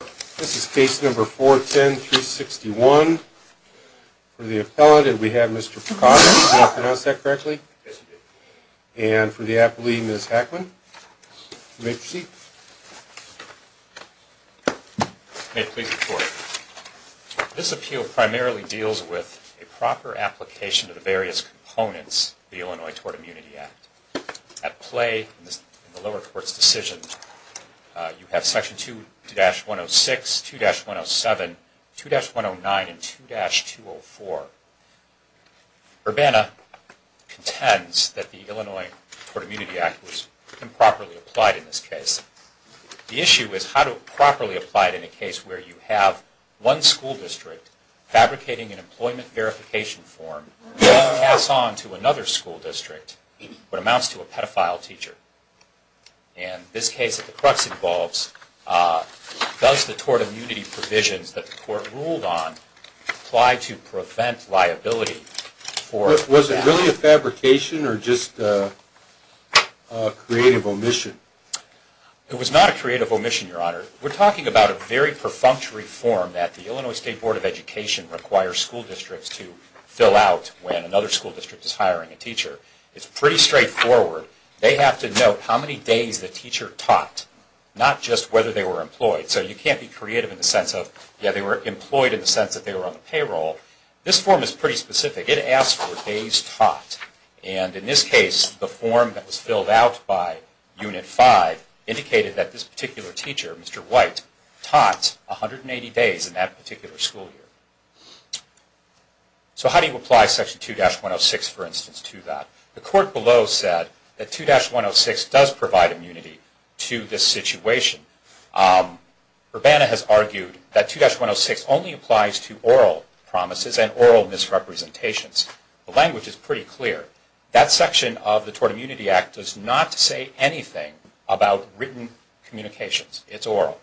This is case No. 410-361. For the appellant, we have Mr. Picardo. Did I pronounce that correctly? Yes, you did. And for the appellee, Ms. Hackman. You may proceed. May it please the Court. This appeal primarily deals with a proper application of the various components of the Illinois Tort Immunity Act. At play in the lower court's decision, you have sections 2-106, 2-107, 2-109, and 2-204. Urbana contends that the Illinois Tort Immunity Act was improperly applied in this case. The issue is how to properly apply it in a case where you have one school district fabricating an employment verification form and then pass on to another school district what amounts to a pedophile teacher. And this case that the crux involves, does the tort immunity provisions that the Court ruled on apply to prevent liability for... Was it really a fabrication or just a creative omission? It was not a creative omission, Your Honor. We're talking about a very perfunctory form that the Illinois State Board of Education requires school districts to fill out when another school district is hiring a teacher. It's pretty straightforward. They have to note how many days the teacher taught, not just whether they were employed. So you can't be creative in the sense of, yeah, they were employed in the sense that they were on the payroll. This form is pretty specific. It asks for days taught. And in this case, the form that was filled out by Unit 5 indicated that this particular teacher, Mr. White, taught 180 days in that particular school year. So how do you apply Section 2-106, for instance, to that? The Court below said that 2-106 does provide immunity to this situation. Urbana has argued that 2-106 only applies to oral promises and oral misrepresentations. The language is pretty clear. That section of the Tort Immunity Act does not say anything about written communications. It's oral.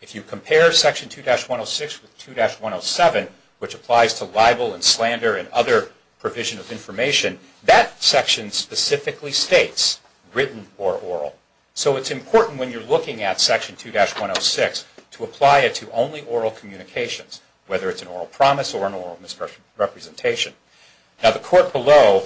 If you compare Section 2-106 with 2-107, which applies to libel and slander and other provision of information, that section specifically states written or oral. So it's important when you're looking at Section 2-106 to apply it to only oral communications, whether it's an oral promise or an oral misrepresentation. Now the Court below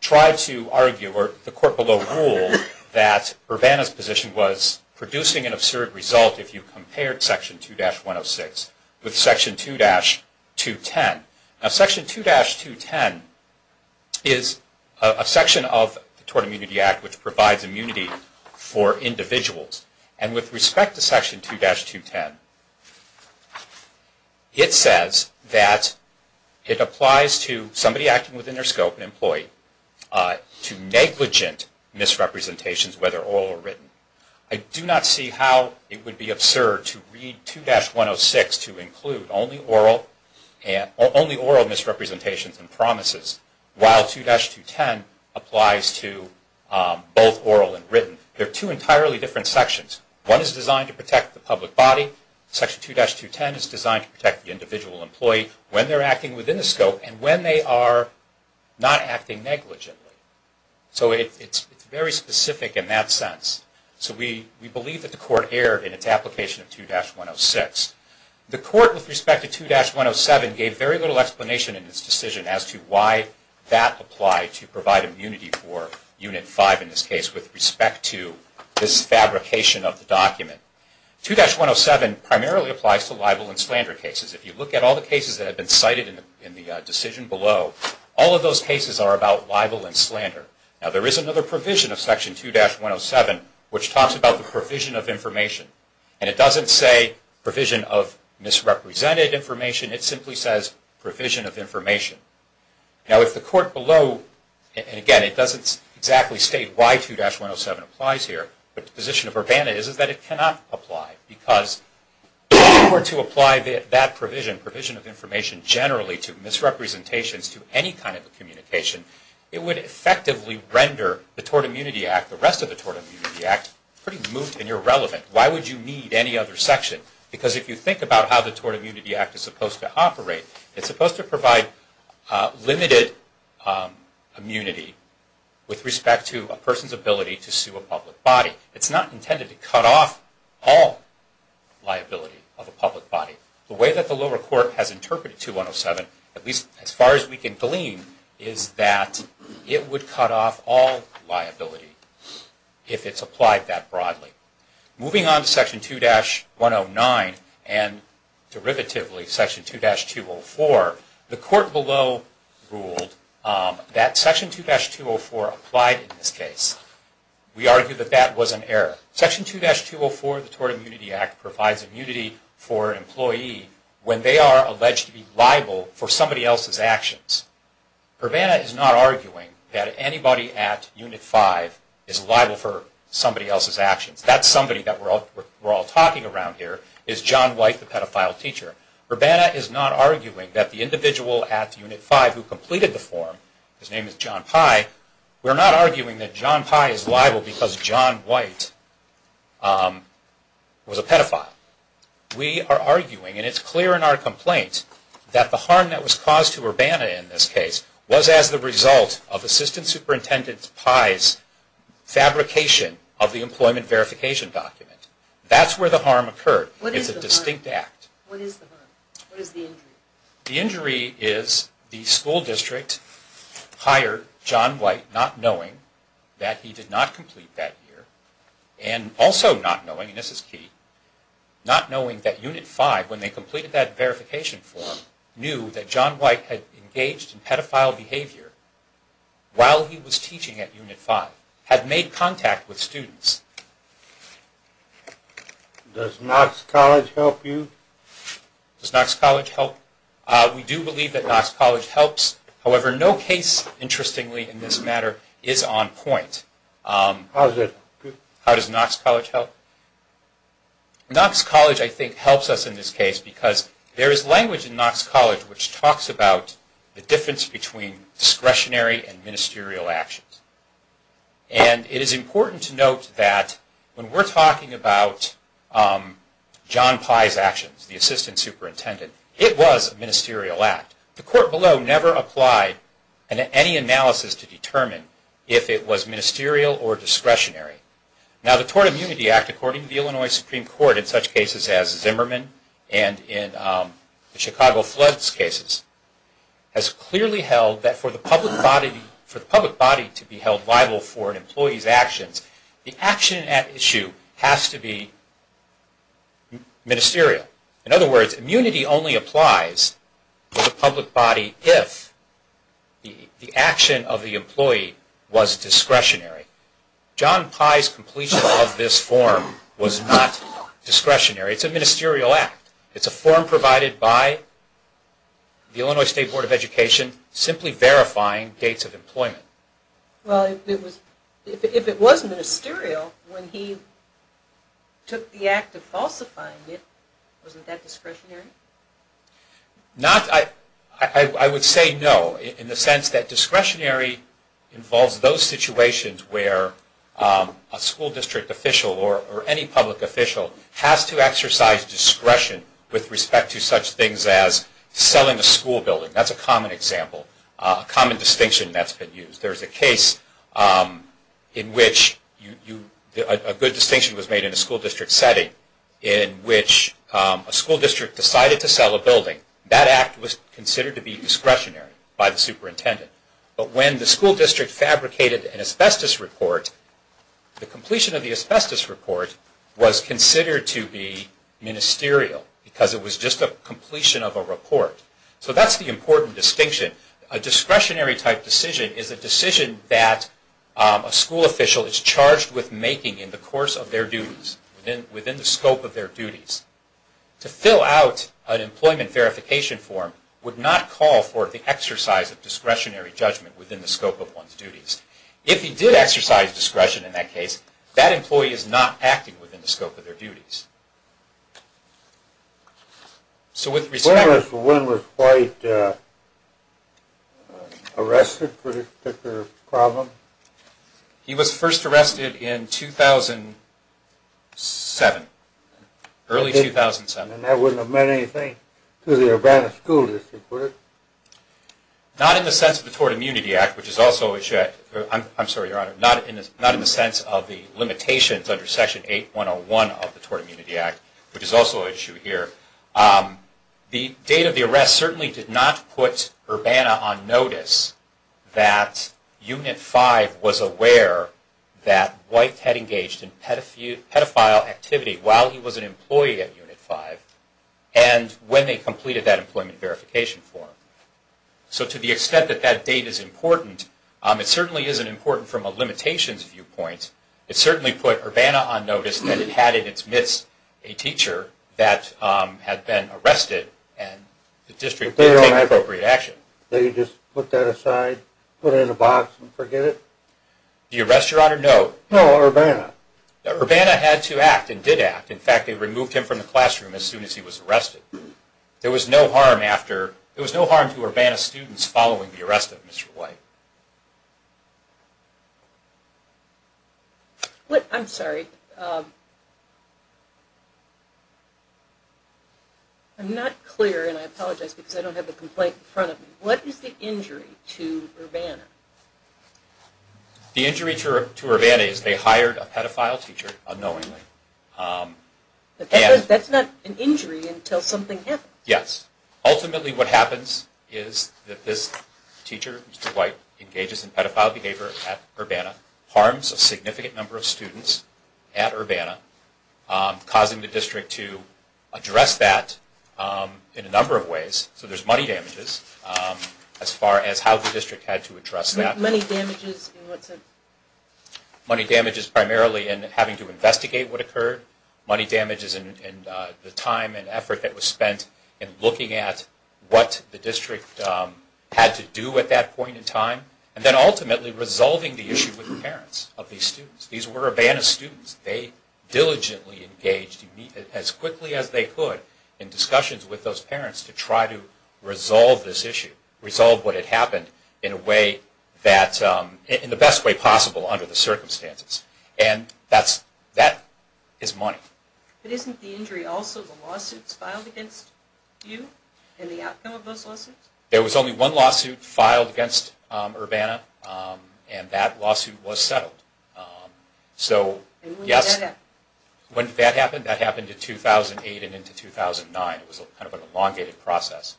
tried to argue, or the Court below ruled, that Urbana's position was producing an absurd result if you compared Section 2-106 with Section 2-210. Now Section 2-210 is a section of the Tort Immunity Act which provides immunity for individuals. And with respect to Section 2-210, it says that it applies to somebody acting within their scope, an employee, to negligent misrepresentations, whether oral or written. I do not see how it would be absurd to read 2-106 to include only oral misrepresentations and promises, while 2-210 applies to both oral and written. They're two entirely different sections. One is designed to protect the public body. Section 2-210 is designed to protect the individual employee when they're acting within the scope and when they are not acting negligently. So it's very specific in that sense. So we believe that the Court erred in its application of 2-106. The Court, with respect to 2-107, gave very little explanation in its decision as to why that applied to provide immunity for Unit 5 in this case with respect to this fabrication of the document. 2-107 primarily applies to libel and slander cases. If you look at all the cases that have been cited in the decision below, all of those cases are about libel and slander. Now there is another provision of Section 2-107 which talks about the provision of information. And it doesn't say provision of misrepresented information. It simply says provision of information. Now if the Court below, and again it doesn't exactly state why 2-107 applies here, but the position of Urbana is that it cannot apply. Because if it were to apply that provision, provision of information generally to misrepresentations to any kind of communication, it would effectively render the Tort Immunity Act, the rest of the Tort Immunity Act, pretty moot and irrelevant. Why would you need any other section? Because if you think about how the Tort Immunity Act is supposed to operate, it's supposed to provide limited immunity with respect to a person's ability to sue a public body. It's not intended to cut off all liability of a public body. The way that the lower court has interpreted 2-107, at least as far as we can glean, is that it would cut off all liability if it's applied that broadly. Moving on to Section 2-109 and derivatively Section 2-204, the Court below ruled that Section 2-204 applied in this case. We argue that that was an error. Section 2-204 of the Tort Immunity Act provides immunity for an employee when they are alleged to be liable for somebody else's actions. Urbana is not arguing that anybody at Unit 5 is liable for somebody else's actions. That somebody that we're all talking around here is John White, the pedophile teacher. Urbana is not arguing that the individual at Unit 5 who completed the form, his name is John Pye, we're not arguing that John Pye is liable because John White was a pedophile. We are arguing, and it's clear in our complaint, that the harm that was caused to Urbana in this case was as the result of Assistant Superintendent Pye's fabrication of the employment verification document. That's where the harm occurred. It's a distinct act. What is the harm? What is the injury? The injury is the school district hired John White not knowing that he did not complete that year and also not knowing, and this is key, not knowing that Unit 5, when they completed that verification form, knew that John White had engaged in pedophile behavior while he was teaching at Unit 5, had made contact with students. Does Knox College help you? Does Knox College help? We do believe that Knox College helps. However, no case, interestingly in this matter, is on point. How does Knox College help? Knox College, I think, helps us in this case because there is language in Knox College which talks about the difference between discretionary and ministerial actions. And it is important to note that when we're talking about John Pye's actions, the Assistant Superintendent, it was a ministerial act. The court below never applied any analysis to determine if it was ministerial or discretionary. Now, the Tort Immunity Act, according to the Illinois Supreme Court, in such cases as Zimmerman and in the Chicago floods cases, has clearly held that for the public body to be held liable for an employee's actions, the action at issue has to be ministerial. In other words, immunity only applies to the public body if the action of the employee was discretionary. John Pye's completion of this form was not discretionary. It's a ministerial act. It's a form provided by the Illinois State Board of Education simply verifying dates of employment. Well, if it was ministerial, when he took the act of falsifying it, wasn't that discretionary? I would say no in the sense that discretionary involves those situations where a school district official or any public official has to exercise discretion with respect to such things as selling a school building. That's a common example, a common distinction that's been used. There's a case in which a good distinction was made in a school district setting in which a school district decided to sell a building. That act was considered to be discretionary by the superintendent. But when the school district fabricated an asbestos report, the completion of the asbestos report was considered to be ministerial because it was just a completion of a report. So that's the important distinction. A discretionary type decision is a decision that a school official is charged with making in the course of their duties, within the scope of their duties. To fill out an employment verification form would not call for the exercise of discretionary judgment within the scope of one's duties. If he did exercise discretion in that case, that employee is not acting within the scope of their duties. So with respect to... The woman was quite arrested for this particular problem? He was first arrested in 2007, early 2007. And that wouldn't have meant anything to the Urbana School District, would it? Not in the sense of the Tort Immunity Act, which is also a... I'm sorry, Your Honor. Not in the sense of the limitations under Section 8101 of the Tort Immunity Act, which is also an issue here. The date of the arrest certainly did not put Urbana on notice that Unit 5 was aware that White had engaged in pedophile activity while he was an employee at Unit 5 and when they completed that employment verification form. So to the extent that that date is important, it certainly isn't important from a limitations viewpoint. It certainly put Urbana on notice that it had in its midst a teacher that had been arrested and the district didn't take appropriate action. They just put that aside, put it in a box and forget it? The arrest, Your Honor, no. No, Urbana. Urbana had to act and did act. There was no harm after... There was no harm to Urbana students following the arrest of Mr. White. I'm sorry. I'm not clear and I apologize because I don't have the complaint in front of me. What is the injury to Urbana? The injury to Urbana is they hired a pedophile teacher unknowingly. That's not an injury until something happens. Yes. Ultimately what happens is that this teacher, Mr. White, engages in pedophile behavior at Urbana, harms a significant number of students at Urbana, causing the district to address that in a number of ways. So there's money damages as far as how the district had to address that. Money damages in what sense? Money damages in the time and effort that was spent in looking at what the district had to do at that point in time, and then ultimately resolving the issue with the parents of these students. These were Urbana students. They diligently engaged as quickly as they could in discussions with those parents to try to resolve this issue, resolve what had happened in a way that... in the best way possible under the circumstances. And that is money. But isn't the injury also the lawsuits filed against you and the outcome of those lawsuits? There was only one lawsuit filed against Urbana, and that lawsuit was settled. And when did that happen? When did that happen? That happened in 2008 and into 2009. It was kind of an elongated process,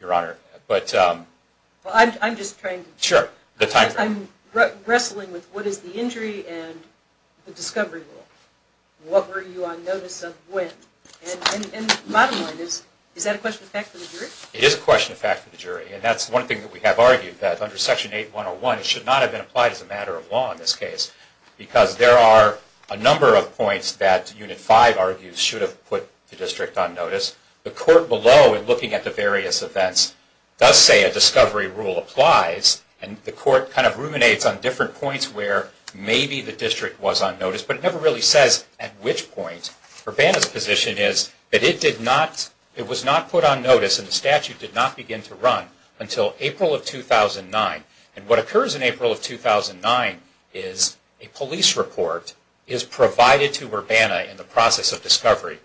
Your Honor. I'm just trying to... Sure. I'm wrestling with what is the injury and the discovery rule. What were you on notice of when? And bottom line is, is that a question of fact for the jury? It is a question of fact for the jury, and that's one thing that we have argued, that under Section 8101 it should not have been applied as a matter of law in this case, because there are a number of points that Unit 5 argues should have put the district on notice. The court below in looking at the various events does say a discovery rule applies, and the court kind of ruminates on different points where maybe the district was on notice, but it never really says at which point. Urbana's position is that it was not put on notice and the statute did not begin to run until April of 2009. And what occurs in April of 2009 is a police report is provided to Urbana in the process of discovery.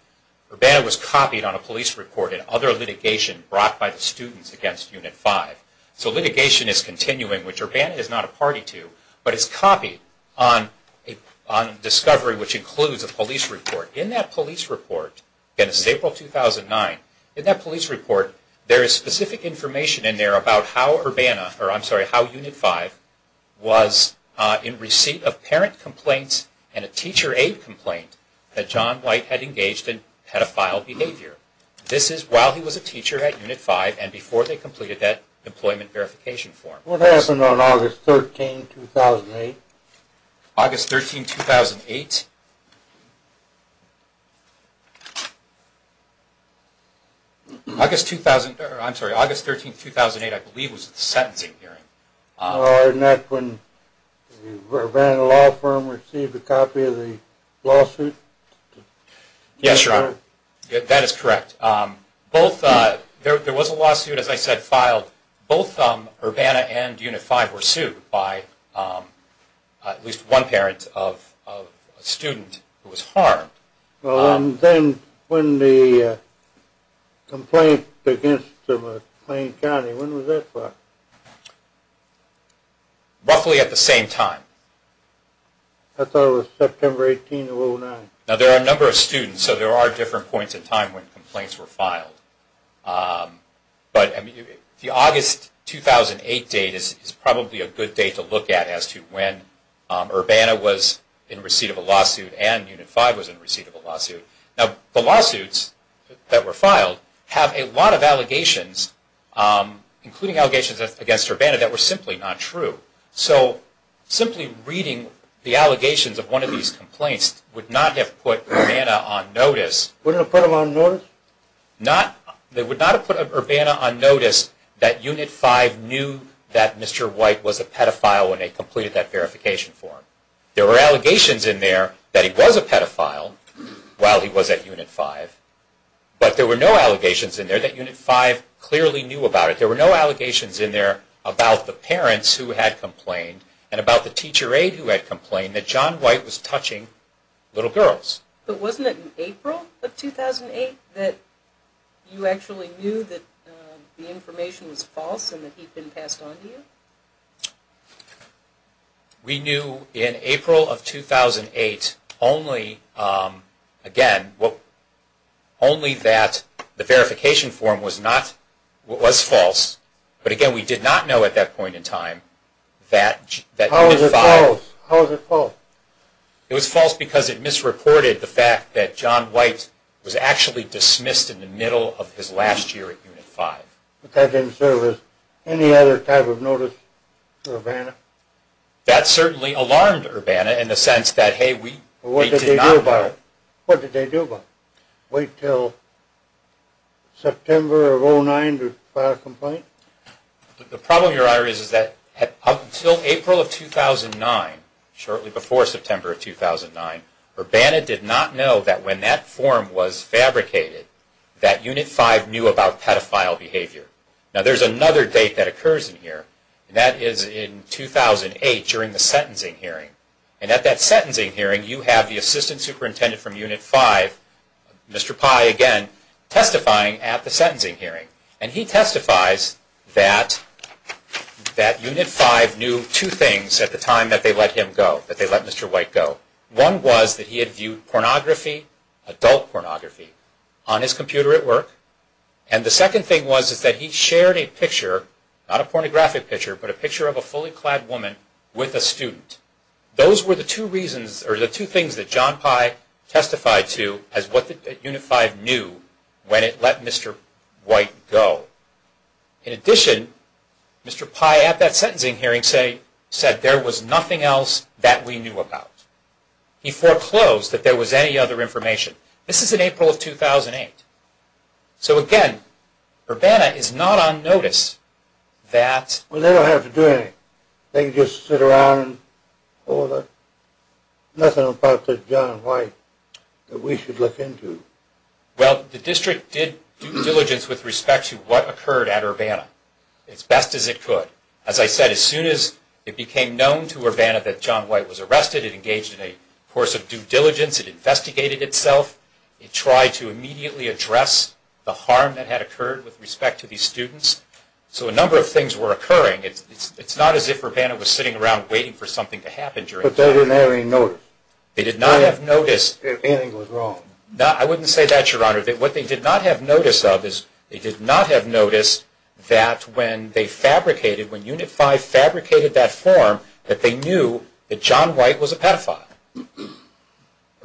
Urbana was copied on a police report in other litigation brought by the students against Unit 5. So litigation is continuing, which Urbana is not a party to, but it's copied on discovery which includes a police report. In that police report, again this is April 2009, in that police report there is specific information in there about how Urbana, or I'm sorry, how Unit 5 was in receipt of parent complaints and a teacher aid complaint that John White had engaged in pedophile behavior. This is while he was a teacher at Unit 5 and before they completed that employment verification form. What happened on August 13, 2008? August 13, 2008? August 13, 2008 I believe was the sentencing hearing. Wasn't that when Urbana Law Firm received a copy of the lawsuit? Yes, Your Honor. That is correct. There was a lawsuit, as I said, filed. Both Urbana and Unit 5 were sued by at least one parent of a student who was harmed. Then when the complaint against McLean County, when was that filed? Roughly at the same time. I thought it was September 18, 2009. Now there are a number of students, so there are different points in time when complaints were filed. The August 2008 date is probably a good date to look at as to when Urbana was in receipt of a lawsuit and Unit 5 was in receipt of a lawsuit. Now the lawsuits that were filed have a lot of allegations, including allegations against Urbana, that were simply not true. So simply reading the allegations of one of these complaints would not have put Urbana on notice. Wouldn't have put him on notice? They would not have put Urbana on notice that Unit 5 knew that Mr. White was a pedophile when they completed that verification form. There were allegations in there that he was a pedophile while he was at Unit 5, but there were no allegations in there that Unit 5 clearly knew about it. There were no allegations in there about the parents who had complained and about the teacher aide who had complained that John White was touching little girls. But wasn't it in April of 2008 that you actually knew that the information was false and that he had been passed on to you? We knew in April of 2008 only that the verification form was false. But again, we did not know at that point in time that Unit 5... How was it false? It was false because it misreported the fact that John White was actually dismissed in the middle of his last year at Unit 5. But that didn't serve as any other type of notice to Urbana? That certainly alarmed Urbana in the sense that, hey, we did not know. What did they do about it? What did they do about it? Wait until September of 2009 to file a complaint? The problem, Your Honor, is that up until April of 2009, shortly before September of 2009, Urbana did not know that when that form was fabricated, that Unit 5 knew about pedophile behavior. Now, there's another date that occurs in here, and that is in 2008 during the sentencing hearing. And at that sentencing hearing, you have the assistant superintendent from Unit 5, Mr. Pye again, testifying at the sentencing hearing. And he testifies that Unit 5 knew two things at the time that they let him go, that they let Mr. White go. One was that he had viewed pornography, adult pornography, on his computer at work. And the second thing was that he shared a picture, not a pornographic picture, but a picture of a fully clad woman with a student. Those were the two reasons or the two things that John Pye testified to as what Unit 5 knew when it let Mr. White go. In addition, Mr. Pye at that sentencing hearing said there was nothing else that we knew about. He foreclosed that there was any other information. This is in April of 2008. So, again, Urbana is not on notice that... occurred at Urbana as best as it could. As I said, as soon as it became known to Urbana that John White was arrested, it engaged in a course of due diligence. It investigated itself. It tried to immediately address the harm that had occurred with respect to these students. So a number of things were occurring. It's not as if Urbana was sitting around waiting for something to happen. But they didn't have any notice. They did not have notice. If anything was wrong. I wouldn't say that, Your Honor. What they did not have notice of is they did not have notice that when they fabricated, when Unit 5 fabricated that form, that they knew that John White was a pedophile.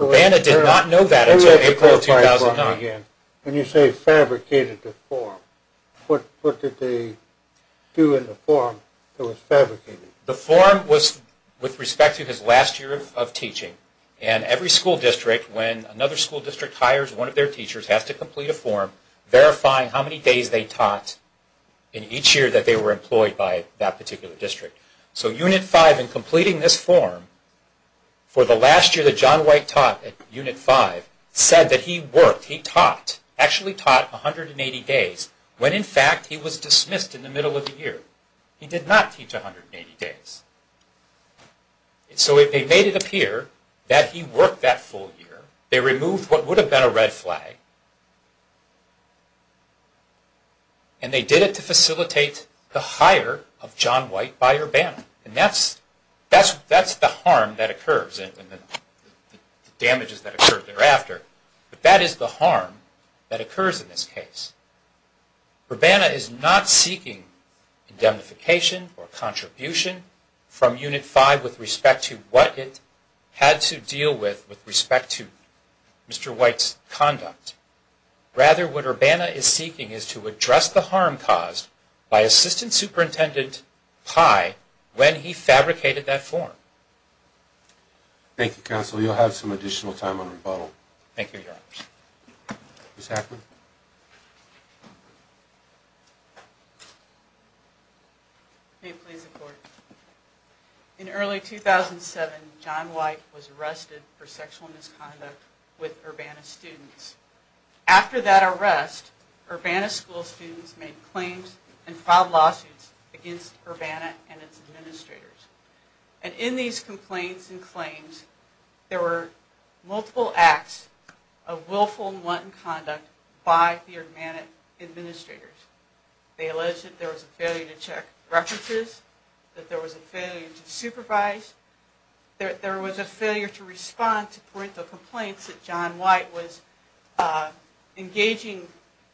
Urbana did not know that until April of 2009. When you say fabricated the form, what did they do in the form that was fabricated? The form was with respect to his last year of teaching. Every school district, when another school district hires one of their teachers, has to complete a form verifying how many days they taught in each year that they were employed by that particular district. So Unit 5, in completing this form for the last year that John White taught at Unit 5, said that he worked, he taught, actually taught 180 days, when in fact he was dismissed in the middle of the year. He did not teach 180 days. So they made it appear that he worked that full year. They removed what would have been a red flag. And they did it to facilitate the hire of John White by Urbana. And that's the harm that occurs and the damages that occur thereafter. But that is the harm that occurs in this case. Urbana is not seeking indemnification or contribution from Unit 5 with respect to what it had to deal with with respect to Mr. White's conduct. Rather, what Urbana is seeking is to address the harm caused by Assistant Superintendent Pai when he fabricated that form. Thank you, Counsel. You'll have some additional time on rebuttal. Thank you, Your Honors. Ms. Hackman. May it please the Court. In early 2007, John White was arrested for sexual misconduct with Urbana students. After that arrest, Urbana school students made claims and filed lawsuits against Urbana and its administrators. And in these complaints and claims, there were multiple acts of willful and wanton conduct by the Urbana administrators. They alleged that there was a failure to check references, that there was a failure to supervise, that there was a failure to respond to parental complaints that John White was engaging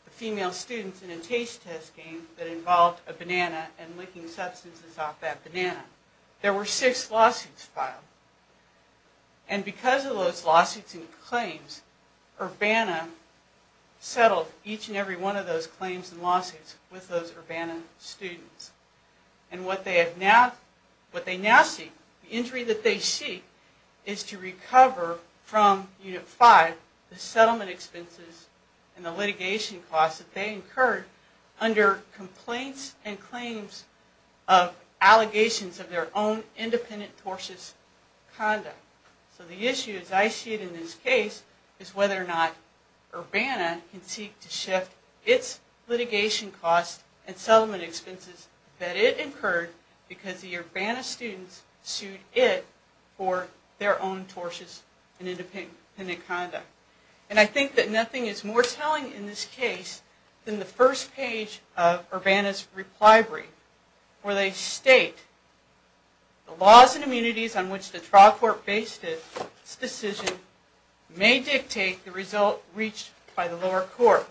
the female students in a taste test game that involved a banana and licking substances off that banana. There were six lawsuits filed. And because of those lawsuits and claims, Urbana settled each and every one of those claims and lawsuits with those Urbana students. And what they now seek, the injury that they seek, is to recover from Unit 5 the settlement expenses and the litigation costs that they incurred under complaints and claims of allegations of their own independent tortious conduct. So the issue, as I see it in this case, is whether or not Urbana can seek to shift its litigation costs and settlement expenses that it incurred because the Urbana students sued it for their own tortious and independent conduct. And I think that nothing is more telling in this case than the first page of Urbana's reply brief, where they state the laws and immunities on which the trial court based its decision may dictate the result reached by the lower court.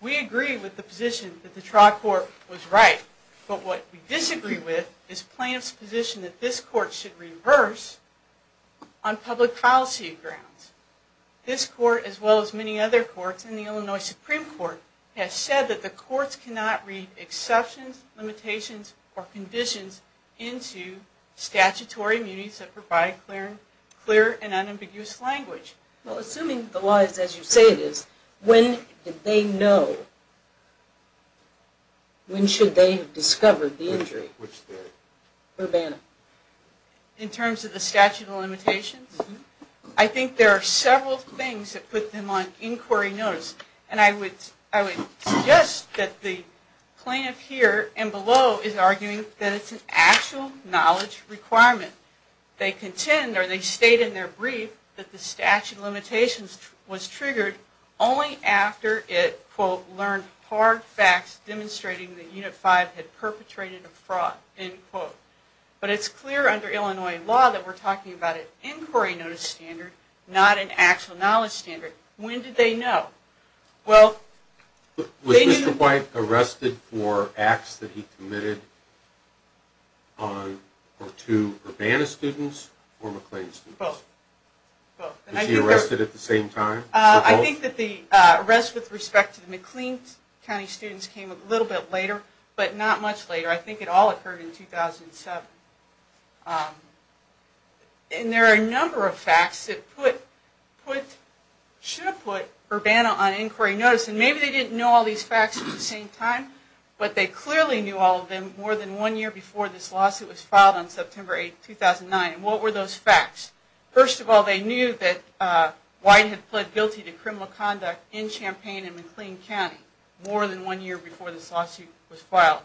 We agree with the position that the trial court was right, but what we disagree with is plaintiff's position that this court should reverse on public policy grounds. This court, as well as many other courts in the Illinois Supreme Court, has said that the courts cannot read exceptions, limitations, or conditions into statutory immunities that provide clear and unambiguous language. Well, assuming the law is as you say it is, when did they know? When should they have discovered the injury? Which day? Urbana. In terms of the statute of limitations? I think there are several things that put them on inquiry notice, and I would suggest that the plaintiff here and below is arguing that it's an actual knowledge requirement. They contend, or they state in their brief, that the statute of limitations was triggered only after it quote, learned hard facts demonstrating that Unit 5 had perpetrated a fraud, end quote. But it's clear under Illinois law that we're talking about an inquiry notice standard, not an actual knowledge standard. When did they know? Was Mr. White arrested for acts that he committed to Urbana students or McLean students? Both. Was he arrested at the same time? I think that the arrest with respect to the McLean County students came a little bit later, but not much later. I think it all occurred in 2007. And there are a number of facts that should have put Urbana on inquiry notice. And maybe they didn't know all these facts at the same time, but they clearly knew all of them more than one year before this lawsuit was filed on September 8, 2009. And what were those facts? First of all, they knew that White had pled guilty to criminal conduct in Champaign and McLean County more than one year before this lawsuit was filed.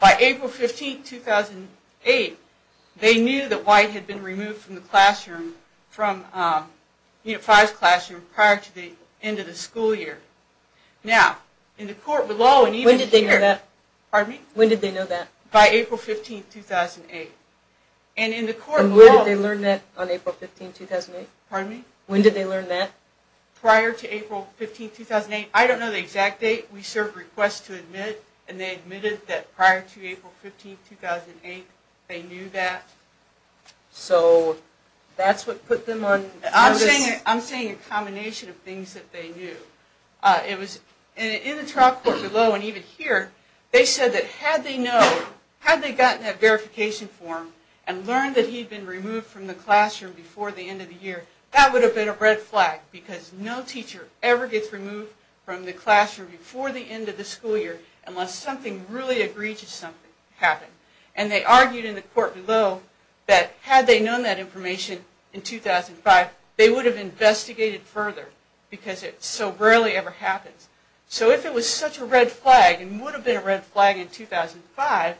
By April 15, 2008, they knew that White had been removed from the classroom, from Unit 5's classroom, prior to the end of the school year. Now, in the court below and even here... When did they know that? Pardon me? When did they know that? By April 15, 2008. And in the court below... And when did they learn that on April 15, 2008? Pardon me? When did they learn that? Prior to April 15, 2008. I don't know the exact date. We serve requests to admit, and they admitted that prior to April 15, 2008, they knew that. So that's what put them on notice? I'm saying a combination of things that they knew. In the trial court below and even here, they said that had they known, had they gotten that verification form and learned that he had been removed from the classroom before the end of the year, that would have been a red flag because no teacher ever gets removed from the classroom before the end of the school year unless something really egregious happened. And they argued in the court below that had they known that information in 2005, they would have investigated further because it so rarely ever happens. So if it was such a red flag and would have been a red flag in 2005,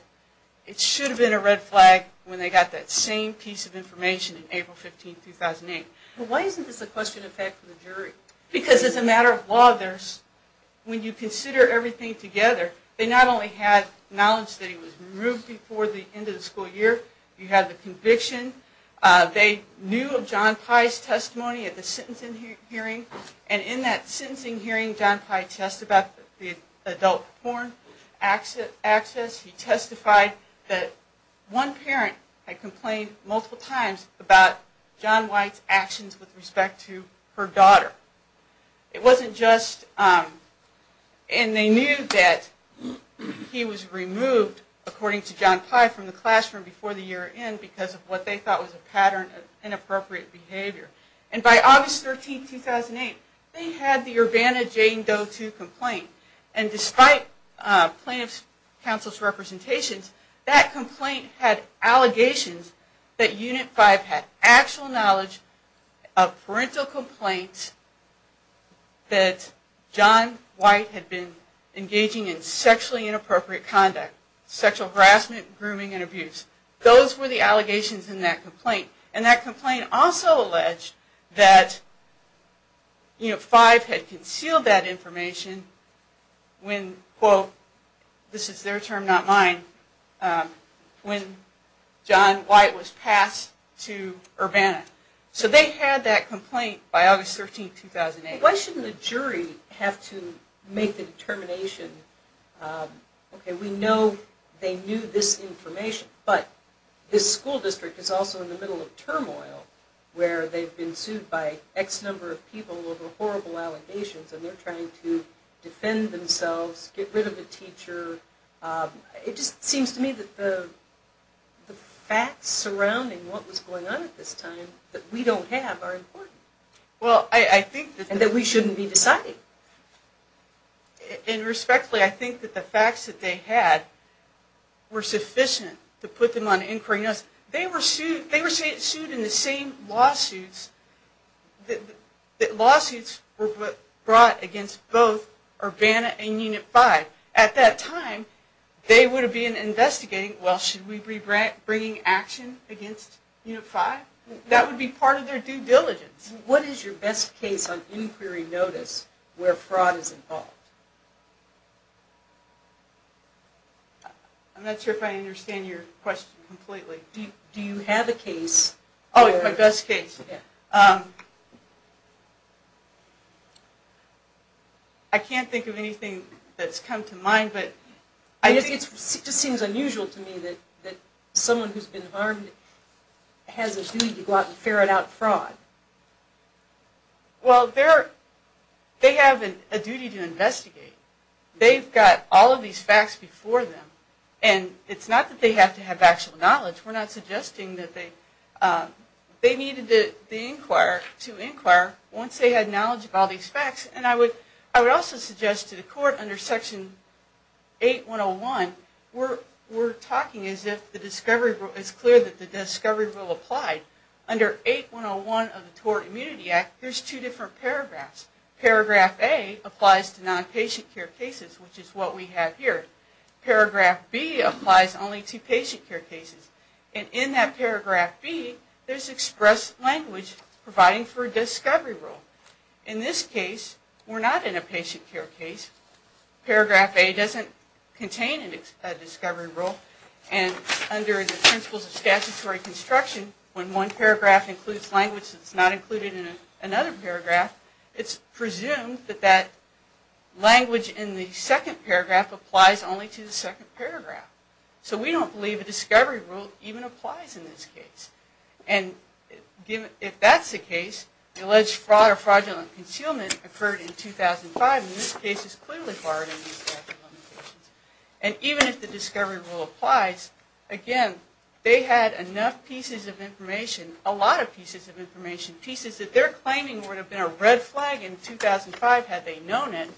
it should have been a red flag when they got that same piece of information on April 15, 2008. Why isn't this a question of fact for the jury? Because as a matter of law, when you consider everything together, they not only had knowledge that he was removed before the end of the school year, you had the conviction. They knew of John Pye's testimony at the sentencing hearing, and in that sentencing hearing, John Pye testified about the adult porn access. He testified that one parent had complained multiple times about John Pye's actions with respect to her daughter. It wasn't just, and they knew that he was removed, according to John Pye, from the classroom before the year end because of what they thought was a pattern of inappropriate behavior. And by August 13, 2008, they had the Urbana-Jane Doe II complaint. And despite plaintiff's counsel's representations, that complaint had allegations that Unit 5 had actual knowledge of parental complaints that John White had been engaging in sexually inappropriate conduct, sexual harassment, grooming, and abuse. And that complaint also alleged that Unit 5 had concealed that information when, quote, this is their term, not mine, when John White was passed to Urbana. So they had that complaint by August 13, 2008. Why shouldn't the jury have to make the determination, okay, we know they knew this information, but this school district is also in the middle of turmoil, where they've been sued by X number of people over horrible allegations, and they're trying to defend themselves, get rid of the teacher. It just seems to me that the facts surrounding what was going on at this time that we don't have are important. And that we shouldn't be deciding. And respectfully, I think that the facts that they had were sufficient to put them on inquiry notice. They were sued in the same lawsuits that lawsuits were brought against both Urbana and Unit 5. At that time, they would have been investigating, well, should we be bringing action against Unit 5? That would be part of their due diligence. What is your best case on inquiry notice where fraud is involved? I'm not sure if I understand your question completely. Do you have a case? Oh, my best case. I can't think of anything that's come to mind. It just seems unusual to me that someone who's been harmed has a duty to go out and ferret out fraud. Well, they have a duty to investigate. They've got all of these facts before them. And it's not that they have to have actual knowledge. We're not suggesting that they... They needed to inquire once they had knowledge of all these facts. And I would also suggest to the court under Section 8101, we're talking as if it's clear that the discovery rule applied. Under 8101 of the Tort Immunity Act, there's two different paragraphs. Paragraph A applies to non-patient care cases, which is what we have here. Paragraph B applies only to patient care cases. And in that paragraph B, there's expressed language providing for a discovery rule. In this case, we're not in a patient care case. Paragraph A doesn't contain a discovery rule. And under the principles of statutory construction, when one paragraph includes language that's not included in another paragraph, it's presumed that that language in the second paragraph applies only to the second paragraph. So we don't believe a discovery rule even applies in this case. And if that's the case, the alleged fraud or fraudulent concealment occurred in 2005. And in this case, it's clearly part of the statute of limitations. And even if the discovery rule applies, again, they had enough pieces of information, a lot of pieces of information, pieces that they're claiming would have been a red flag in 2005 had they known it,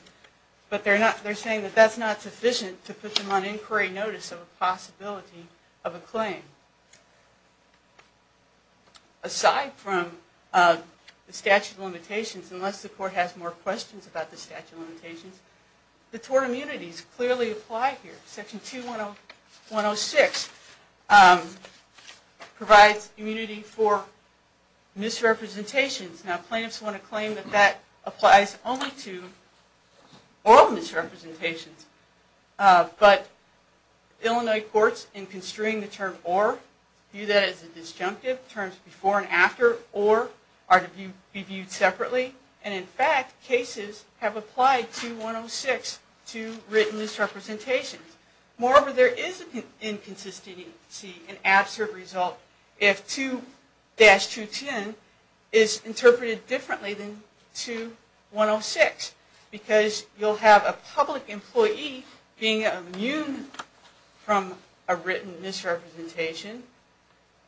but they're saying that that's not sufficient to put them on inquiry notice of a possibility of a claim. Aside from the statute of limitations, unless the court has more questions about the statute of limitations, the tort immunities clearly apply here. Section 2106 provides immunity for misrepresentations. Now, plaintiffs want to claim that that applies only to oral misrepresentations. But Illinois courts, in construing the term or, view that as a disjunctive, terms before and after, or are to be viewed separately. And in fact, cases have applied 2106 to written misrepresentations. Moreover, there is an inconsistency, an absurd result, if 2-210 is interpreted differently than 2106. Because you'll have a public employee being immune from a written misrepresentation.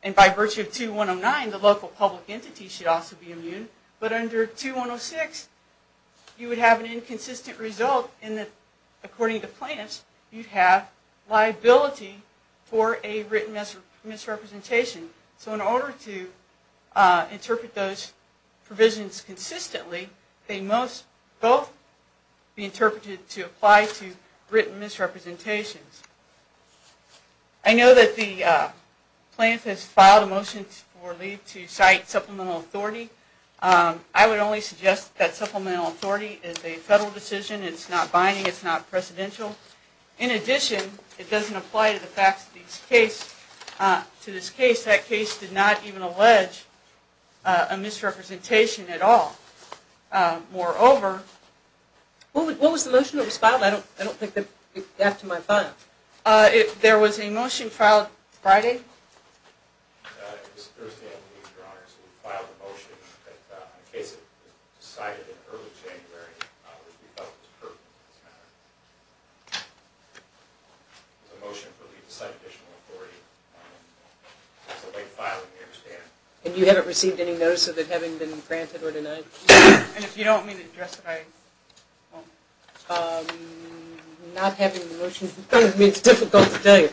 And by virtue of 2109, the local public entity should also be immune. But under 2106, you would have an inconsistent result in that, according to plaintiffs, you'd have liability for a written misrepresentation. So in order to interpret those provisions consistently, they must both be interpreted to apply to written misrepresentations. I know that the plaintiff has filed a motion for leave to cite supplemental authority. I would only suggest that supplemental authority is a federal decision, it's not binding, it's not precedential. In addition, it doesn't apply to the facts of this case. To this case, that case did not even allege a misrepresentation at all. Moreover... What was the motion that was filed? I don't think it got to my phone. There was a motion filed Friday? It was Thursday afternoon, Your Honor. So we filed a motion that in the case that was decided in early January, which we felt was pertinent to this matter. It was a motion for leave to cite additional authority. That's the way to file it, I understand. And you haven't received any notice of it having been granted or denied? And if you don't mean to address it, I won't. Not having the motion in front of me is difficult to tell you.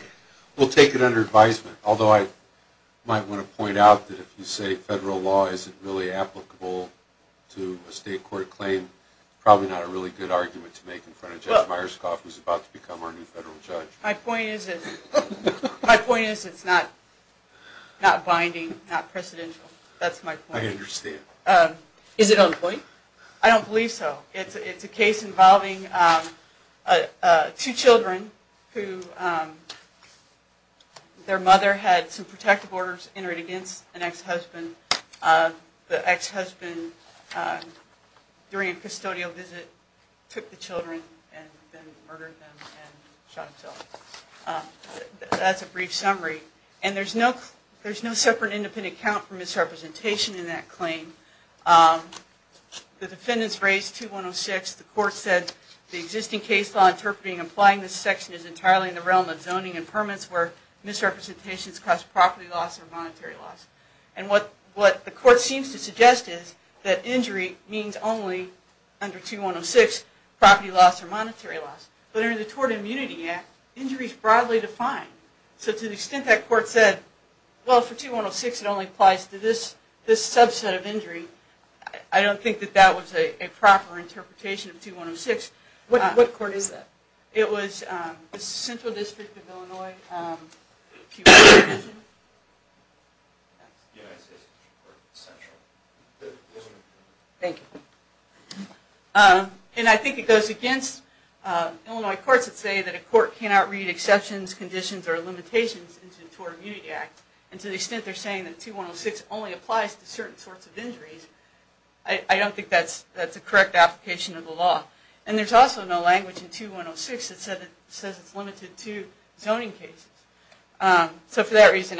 We'll take it under advisement. Although I might want to point out that if you say federal law isn't really applicable to a state court claim, probably not a really good argument to make in front of Judge Myerscough, who's about to become our new federal judge. My point is it's not binding, not precedential. That's my point. I understand. Is it on point? I don't believe so. It's a case involving two children who their mother had some protective orders entered against an ex-husband. The ex-husband, during a custodial visit, took the children and then murdered them and shot himself. That's a brief summary. And there's no separate independent count for misrepresentation in that claim. The defendants raised 2106. The court said the existing case law interpreting and applying this section is entirely in the realm of zoning and permits where misrepresentations cause property loss or monetary loss. And what the court seems to suggest is that injury means only, under 2106, property loss or monetary loss. But under the Tort Immunity Act, injury is broadly defined. So to the extent that court said, well, for 2106, it only applies to this subset of injury, I don't think that that was a proper interpretation of 2106. What court is that? It was the Central District of Illinois. And I think it goes against Illinois courts that say that a court cannot read exceptions, conditions, or limitations into the Tort Immunity Act. And to the extent they're saying that 2106 only applies to certain sorts of injuries, I don't think that's a correct application of the law. And there's also no language in 2106 that says it's limited to zoning cases. So for that reason,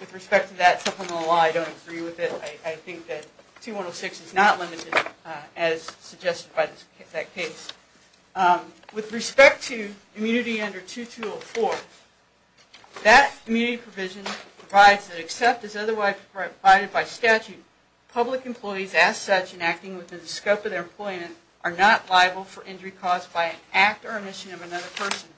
with respect to that supplemental law, I don't agree with it. I think that 2106 is not limited, as suggested by that case. With respect to immunity under 2204, that immunity provision provides that except as otherwise provided by statute, public employees, as such, in acting within the scope of their employment, are not liable for injury caused by an act or omission of another person.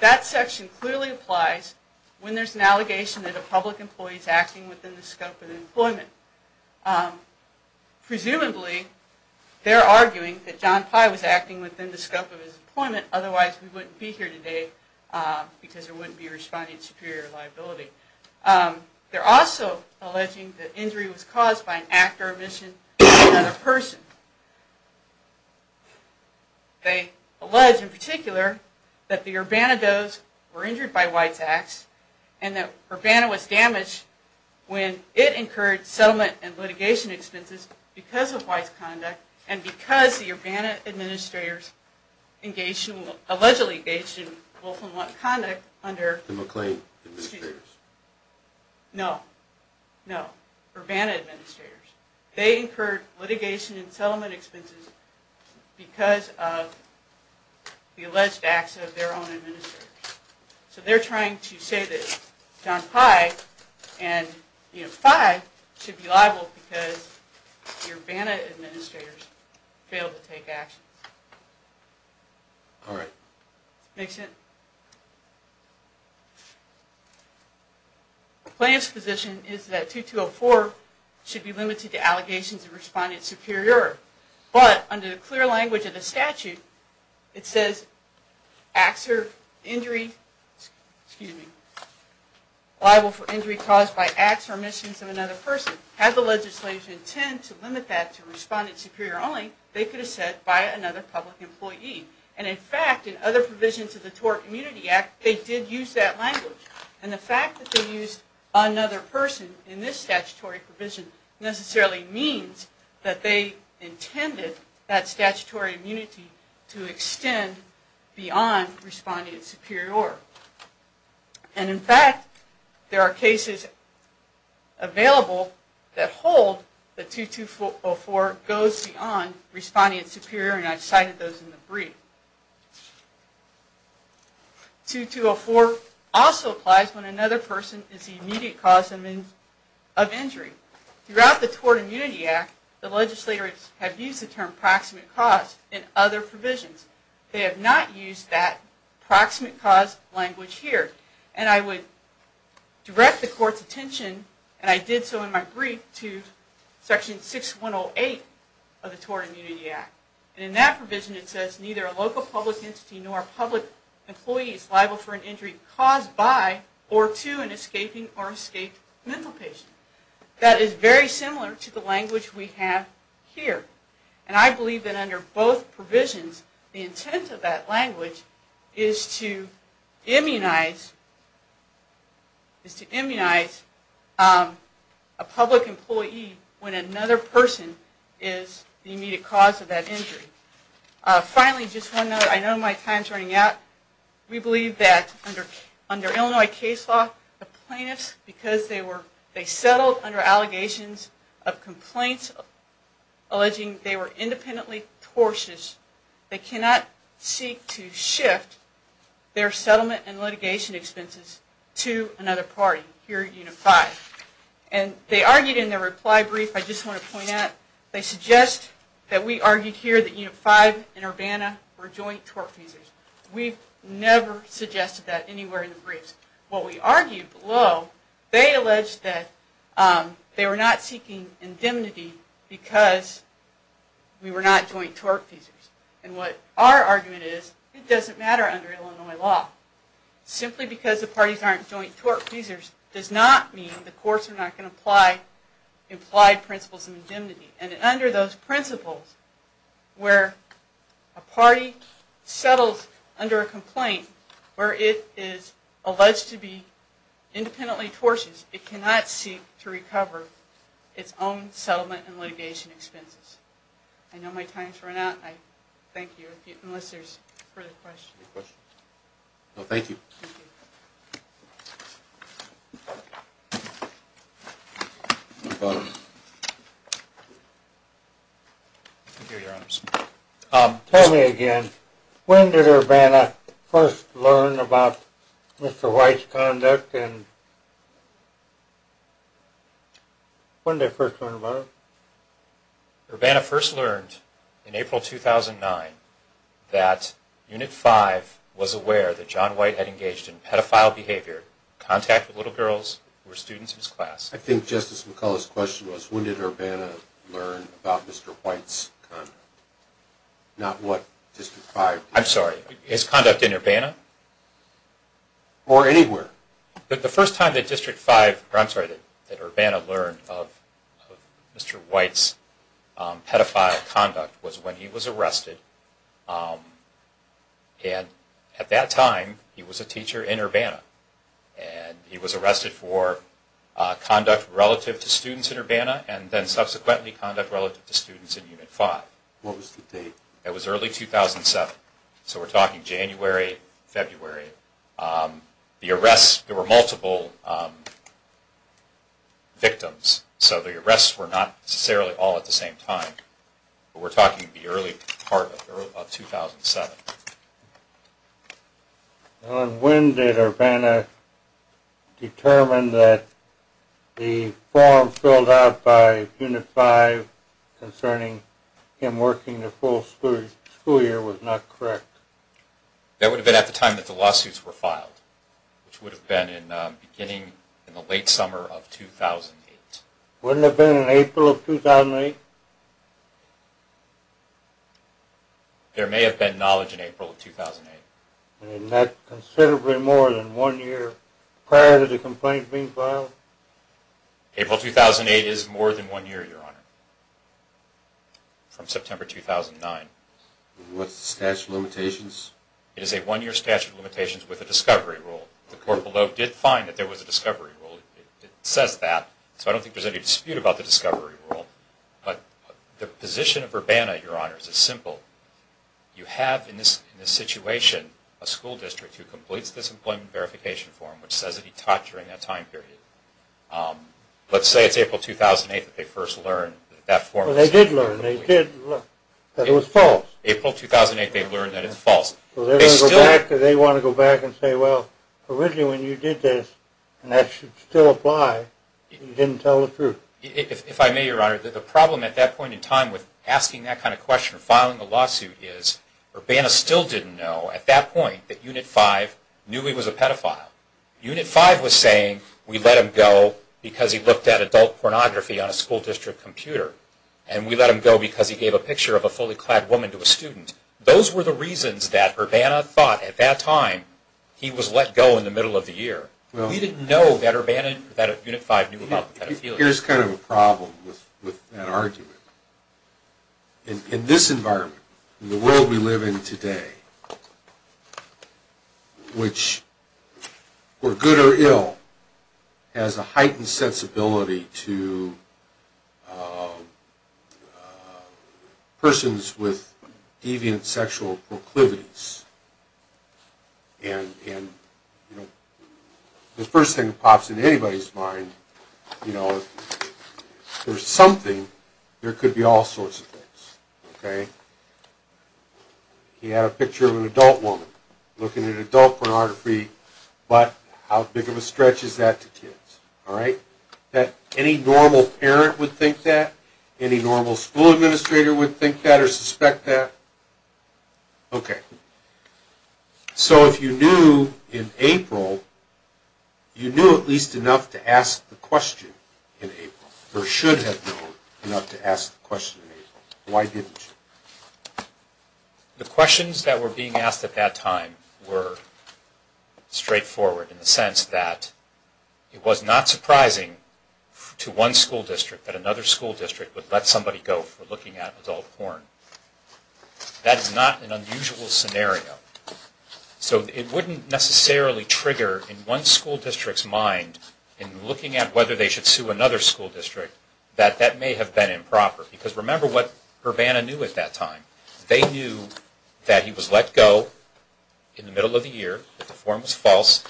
That section clearly applies when there's an allegation that a public employee is acting within the scope of their employment. Presumably, they're arguing that John Pye was acting within the scope of his employment, otherwise we wouldn't be here today, because there wouldn't be responding to superior liability. They're also alleging that injury was caused by an act or omission of another person. They allege, in particular, that the Urbana does were injured by White's acts, and that Urbana was damaged when it incurred settlement and litigation expenses because of White's conduct, and because the Urbana administrators allegedly engaged in willful and blunt conduct under... The McLean administrators. No. No. Urbana administrators. They incurred litigation and settlement expenses because of the alleged acts of their own administrators. So they're trying to say that John Pye, and, you know, Pye, should be liable because the Urbana administrators failed to take action. All right. Makes sense? The plaintiff's position is that 2204 should be limited to allegations of respondent superior, but under the clear language of the statute, it says acts or injury, excuse me, liable for injury caused by acts or omissions of another person. Had the legislature intended to limit that to respondent superior only, they could have said by another public employee. And, in fact, in other provisions of the TOR Community Act, they did use that language. And the fact that they used another person in this statutory provision necessarily means that they intended that statutory immunity to extend beyond respondent superior. And, in fact, there are cases available that hold that 2204 goes beyond respondent superior, and I've cited those in the brief. 2204 also applies when another person is the immediate cause of injury. Throughout the TOR Community Act, the legislators have used the term proximate cause in other provisions. They have not used that proximate cause language here. And I would direct the court's attention, and I did so in my brief, to section 6108 of the TOR Community Act. And in that provision, it says neither a local public entity nor a public employee is liable for an injury caused by or to an escaping or escaped mental patient. That is very similar to the language we have here. And I believe that under both provisions, the intent of that language is to immunize a public employee when another person is the immediate cause of that injury. Finally, just one note, I know my time is running out. We believe that under Illinois case law, the plaintiffs, because they settled under allegations of complaints alleging they were independently tortious, they cannot seek to shift their settlement and litigation expenses to another party, here at Unit 5. And they argued in their reply brief, I just want to point out, they suggest that we argued here that Unit 5 and Urbana were joint tort cases. We've never suggested that anywhere in the briefs. What we argued below, they alleged that they were not seeking indemnity because we were not joint tort cases. And what our argument is, it doesn't matter under Illinois law. Simply because the parties aren't joint tort cases does not mean the courts are not going to apply implied principles of indemnity. And under those principles, where a party settles under a complaint where it is alleged to be independently tortious, it cannot seek to recover its own settlement and litigation expenses. I know my time has run out, and I thank you, unless there's further questions. Thank you. Tell me again, when did Urbana first learn about Mr. White's conduct and when did they first learn about it? Urbana first learned in April 2009 that Unit 5 was aware that John White had engaged in pedophile behavior, contact with little girls who were students in his class. I think Justice McCullough's question was when did Urbana learn about Mr. White's conduct, not what District 5 did. I'm sorry, his conduct in Urbana? Or anywhere. The first time that Urbana learned of Mr. White's pedophile conduct was when he was arrested. And at that time, he was a teacher in Urbana. And he was arrested for conduct relative to students in Urbana and then subsequently conduct relative to students in Unit 5. What was the date? It was early 2007. So we're talking January, February. The arrests, there were multiple victims, so the arrests were not necessarily all at the same time. But we're talking the early part of 2007. And when did Urbana determine that the form filled out by Unit 5 concerning him working the full school year was not correct? That would have been at the time that the lawsuits were filed, which would have been beginning in the late summer of 2008. Wouldn't it have been in April of 2008? There may have been knowledge in April of 2008. And that's considerably more than one year prior to the complaint being filed? April 2008 is more than one year, Your Honor, from September 2009. What's the statute of limitations? It is a one-year statute of limitations with a discovery rule. The court below did find that there was a discovery rule. It says that. So I don't think there's any dispute about the discovery rule. But the position of Urbana, Your Honor, is as simple. You have in this situation a school district who completes this employment verification form, which says that he taught during that time period. Let's say it's April 2008 that they first learn that that form… Well, they did learn. They did learn that it was false. April 2008 they've learned that it's false. They want to go back and say, well, originally when you did this, and that should still apply, you didn't tell the truth. If I may, Your Honor, the problem at that point in time with asking that kind of question or filing a lawsuit is Urbana still didn't know at that point that Unit 5 knew he was a pedophile. Unit 5 was saying we let him go because he looked at adult pornography on a school district computer and we let him go because he gave a picture of a fully clad woman to a student. Those were the reasons that Urbana thought at that time he was let go in the middle of the year. We didn't know that Unit 5 knew about the pedophilia. Here's kind of a problem with that argument. In this environment, in the world we live in today, which, for good or ill, has a heightened sensibility to persons with deviant sexual proclivities. The first thing that pops into anybody's mind, if there's something, there could be all sorts of things. He had a picture of an adult woman looking at adult pornography, but how big of a stretch is that to kids? Any normal parent would think that. Any normal school administrator would think that or suspect that. Okay. So if you knew in April, you knew at least enough to ask the question in April, or should have known enough to ask the question in April. Why didn't you? The questions that were being asked at that time were straightforward in the sense that it was not surprising to one school district that another school district would let somebody go if they were looking at adult porn. That is not an unusual scenario. So it wouldn't necessarily trigger in one school district's mind, in looking at whether they should sue another school district, that that may have been improper. Because remember what Urbana knew at that time. They knew that he was let go in the middle of the year, that the form was false,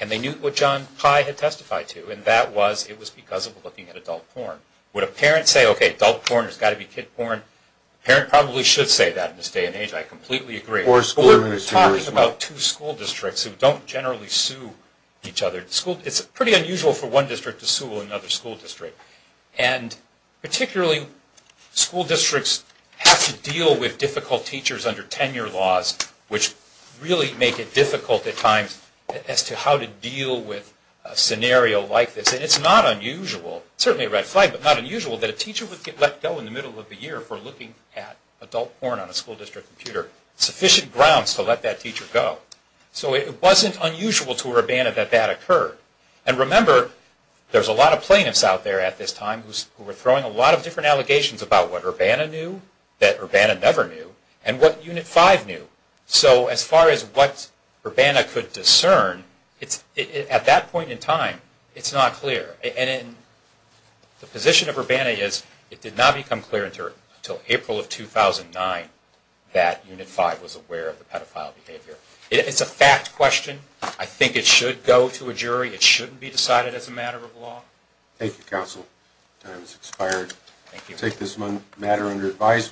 and they knew what John Pye had testified to, and that was it was because of looking at adult porn. Would a parent say, okay, adult porn has got to be kid porn? A parent probably should say that in this day and age. I completely agree. We're talking about two school districts who don't generally sue each other. It's pretty unusual for one district to sue another school district. And particularly school districts have to deal with difficult teachers under tenure laws, which really make it difficult at times as to how to deal with a scenario like this. And it's not unusual, certainly a red flag, but not unusual that a teacher would get let go in the middle of the year for looking at adult porn on a school district computer. Sufficient grounds to let that teacher go. So it wasn't unusual to Urbana that that occurred. And remember, there's a lot of plaintiffs out there at this time who are throwing a lot of different allegations about what Urbana knew, that Urbana never knew, and what Unit 5 knew. So as far as what Urbana could discern, at that point in time, it's not clear. And the position of Urbana is it did not become clear until April of 2009 that Unit 5 was aware of the pedophile behavior. It's a fact question. I think it should go to a jury. It shouldn't be decided as a matter of law. Thank you, Counsel. Time has expired. Thank you. We'll take this matter under advisory.